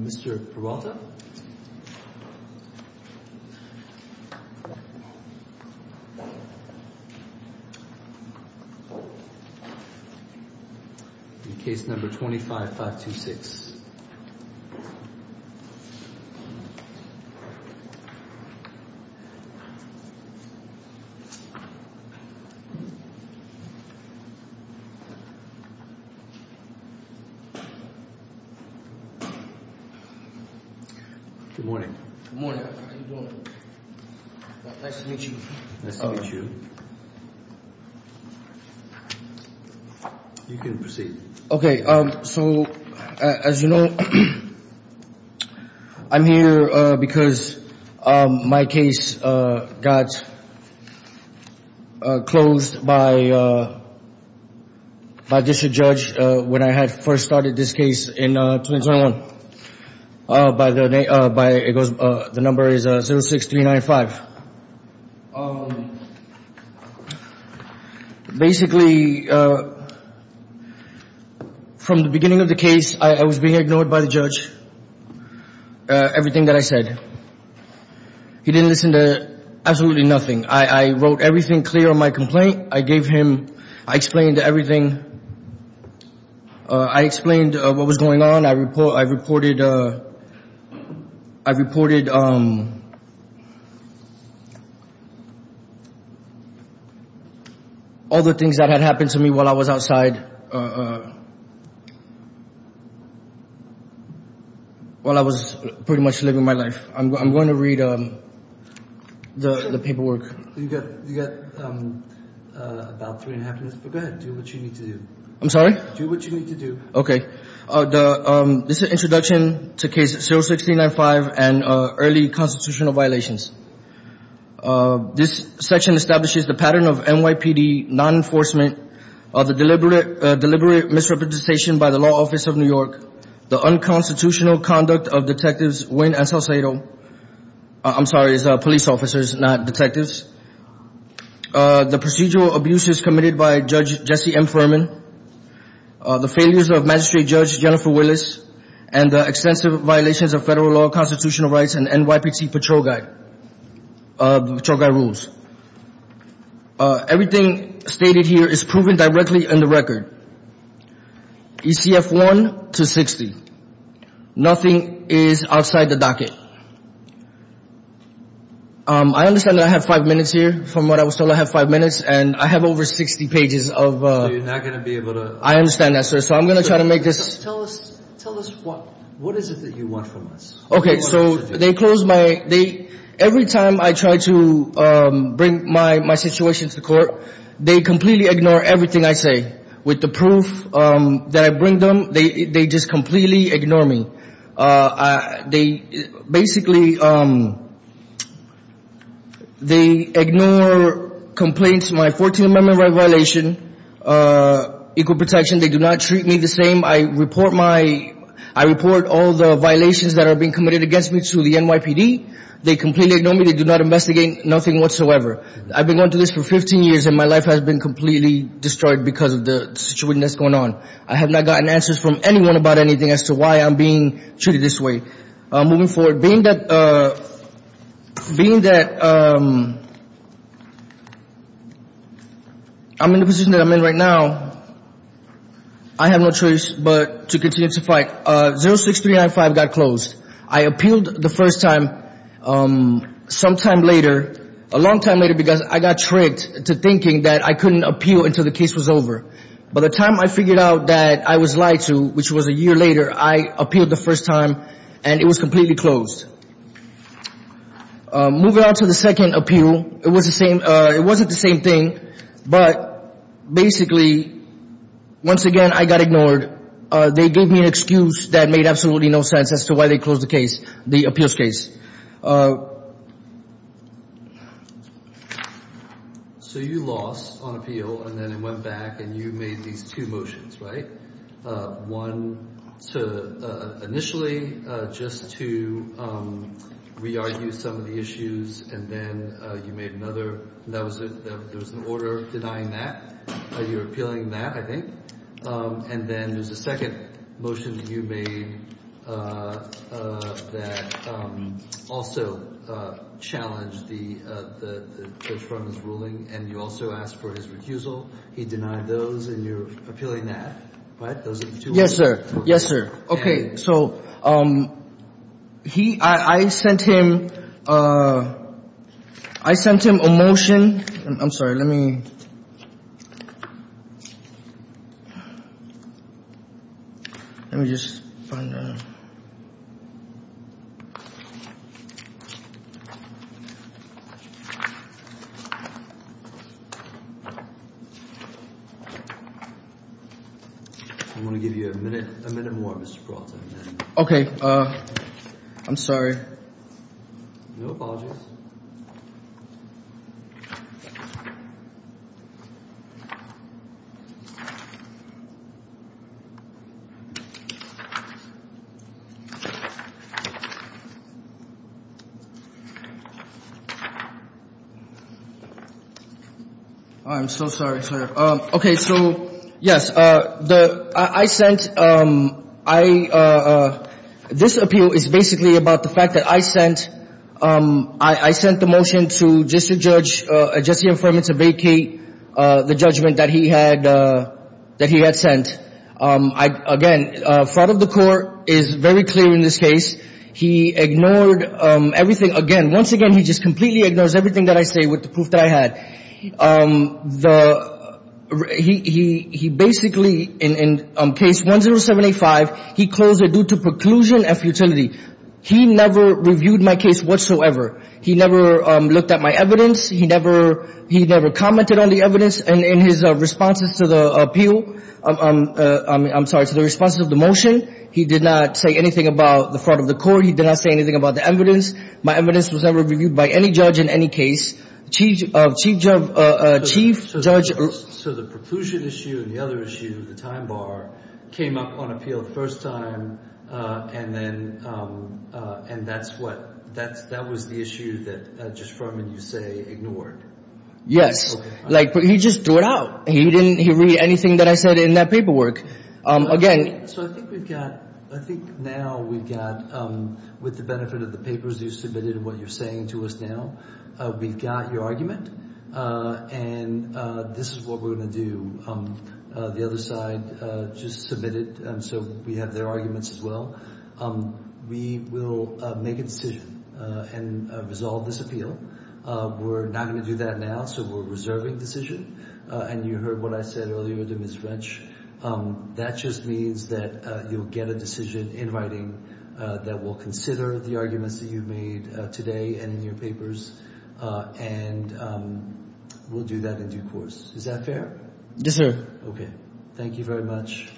Mr. Peralta Case number 25-526 Good morning. Good morning. How are you doing? Nice to meet you. Nice to meet you. You can proceed. Okay, so as you know, I'm here because my case got closed by District Judge when I had first started this case in 2021. The number is 06395. Basically, from the beginning of the case, I was being ignored by the judge. Everything that I said. He didn't listen to absolutely nothing. I wrote everything clear on my complaint. I explained everything. I explained what was going on. I reported all the things that had happened to me while I was pretty much living my life. I'm going to read the paperwork. You got about three and a half minutes, but go ahead. Do what you need to do. I'm sorry? Do what you need to do. Okay. This is an introduction to case 06395 and early constitutional violations. This section establishes the pattern of NYPD non-enforcement, the deliberate misrepresentation by the law office of New York, the unconstitutional conduct of Detectives Wynn and Salcedo. I'm sorry, it's police officers, not detectives. The procedural abuses committed by Judge Jesse M. Furman, the failures of Magistrate Judge Jennifer Willis, and the extensive violations of federal law, constitutional rights, and NYPD patrol guide rules. Everything stated here is proven directly in the record. ECF 1 to 60. Nothing is outside the docket. I understand that I have five minutes here. From what I was told, I have five minutes, and I have over 60 pages of... So you're not going to be able to... I understand that, sir. So I'm going to try to make this... Tell us what. What is it that you want from us? Okay, so they closed my... Every time I try to bring my situation to court, they completely ignore everything I say. With the proof that I bring them, they just completely ignore me. They basically... They ignore complaints, my 14th Amendment violation, equal protection. They do not treat me the same. I report all the violations that are being committed against me to the NYPD. They completely ignore me. They do not investigate nothing whatsoever. I've been going through this for 15 years, and my life has been completely destroyed because of the situation that's going on. I have not gotten answers from anyone about anything as to why I'm being treated this way. Moving forward, being that I'm in the position that I'm in right now, I have no choice but to continue to fight. 06395 got closed. I appealed the first time sometime later, a long time later, because I got tricked into thinking that I couldn't appeal until the case was over. By the time I figured out that I was lied to, which was a year later, I appealed the first time, and it was completely closed. Moving on to the second appeal, it wasn't the same thing, but basically, once again, I got ignored. They gave me an excuse that made absolutely no sense as to why they closed the case, the appeals case. So you lost on appeal, and then it went back, and you made these two motions, right? One to initially just to re-argue some of the issues, and then you made another. There was an order denying that. You were appealing that, I think. And then there's a second motion that you made that also challenged the judge's ruling, and you also asked for his recusal. He denied those, and you're appealing that, right? Those are the two motions. Yes, sir. Yes, sir. Okay. So I sent him a motion. I'm sorry. Let me just find out. I'm going to give you a minute more, Mr. Peralta. Okay. I'm sorry. No apologies. I'm so sorry, sir. Okay. So, yes, the – I sent – I – this appeal is basically about the fact that I sent – I sent the motion to District Judge Jesse Afferman to vacate the judgment that he had – that he had sent. Again, fraud of the court is very clear in this case. He ignored everything. Again, once again, he just completely ignores everything that I say with the proof that I had. He basically, in case 10785, he closed it due to preclusion and futility. He never reviewed my case whatsoever. He never looked at my evidence. He never – he never commented on the evidence in his responses to the appeal – I'm sorry, to the responses of the motion. He did not say anything about the fraud of the court. He did not say anything about the evidence. My evidence was never reviewed by any judge in any case. Chief judge – So the preclusion issue and the other issue, the time bar, came up on appeal the first time, and then – and that's what – that was the issue that Judge Afferman, you say, ignored? Yes. Like, he just threw it out. He didn't – he read anything that I said in that paperwork. Again – So I think we've got – I think now we've got, with the benefit of the papers you submitted and what you're saying to us now, we've got your argument, and this is what we're going to do. The other side just submitted, and so we have their arguments as well. We will make a decision and resolve this appeal. We're not going to do that now, so we're reserving decision, and you heard what I said earlier to Ms. French. That just means that you'll get a decision in writing that will consider the arguments that you've made today and in your papers, and we'll do that in due course. Is that fair? Yes, sir. Okay. Thank you very much.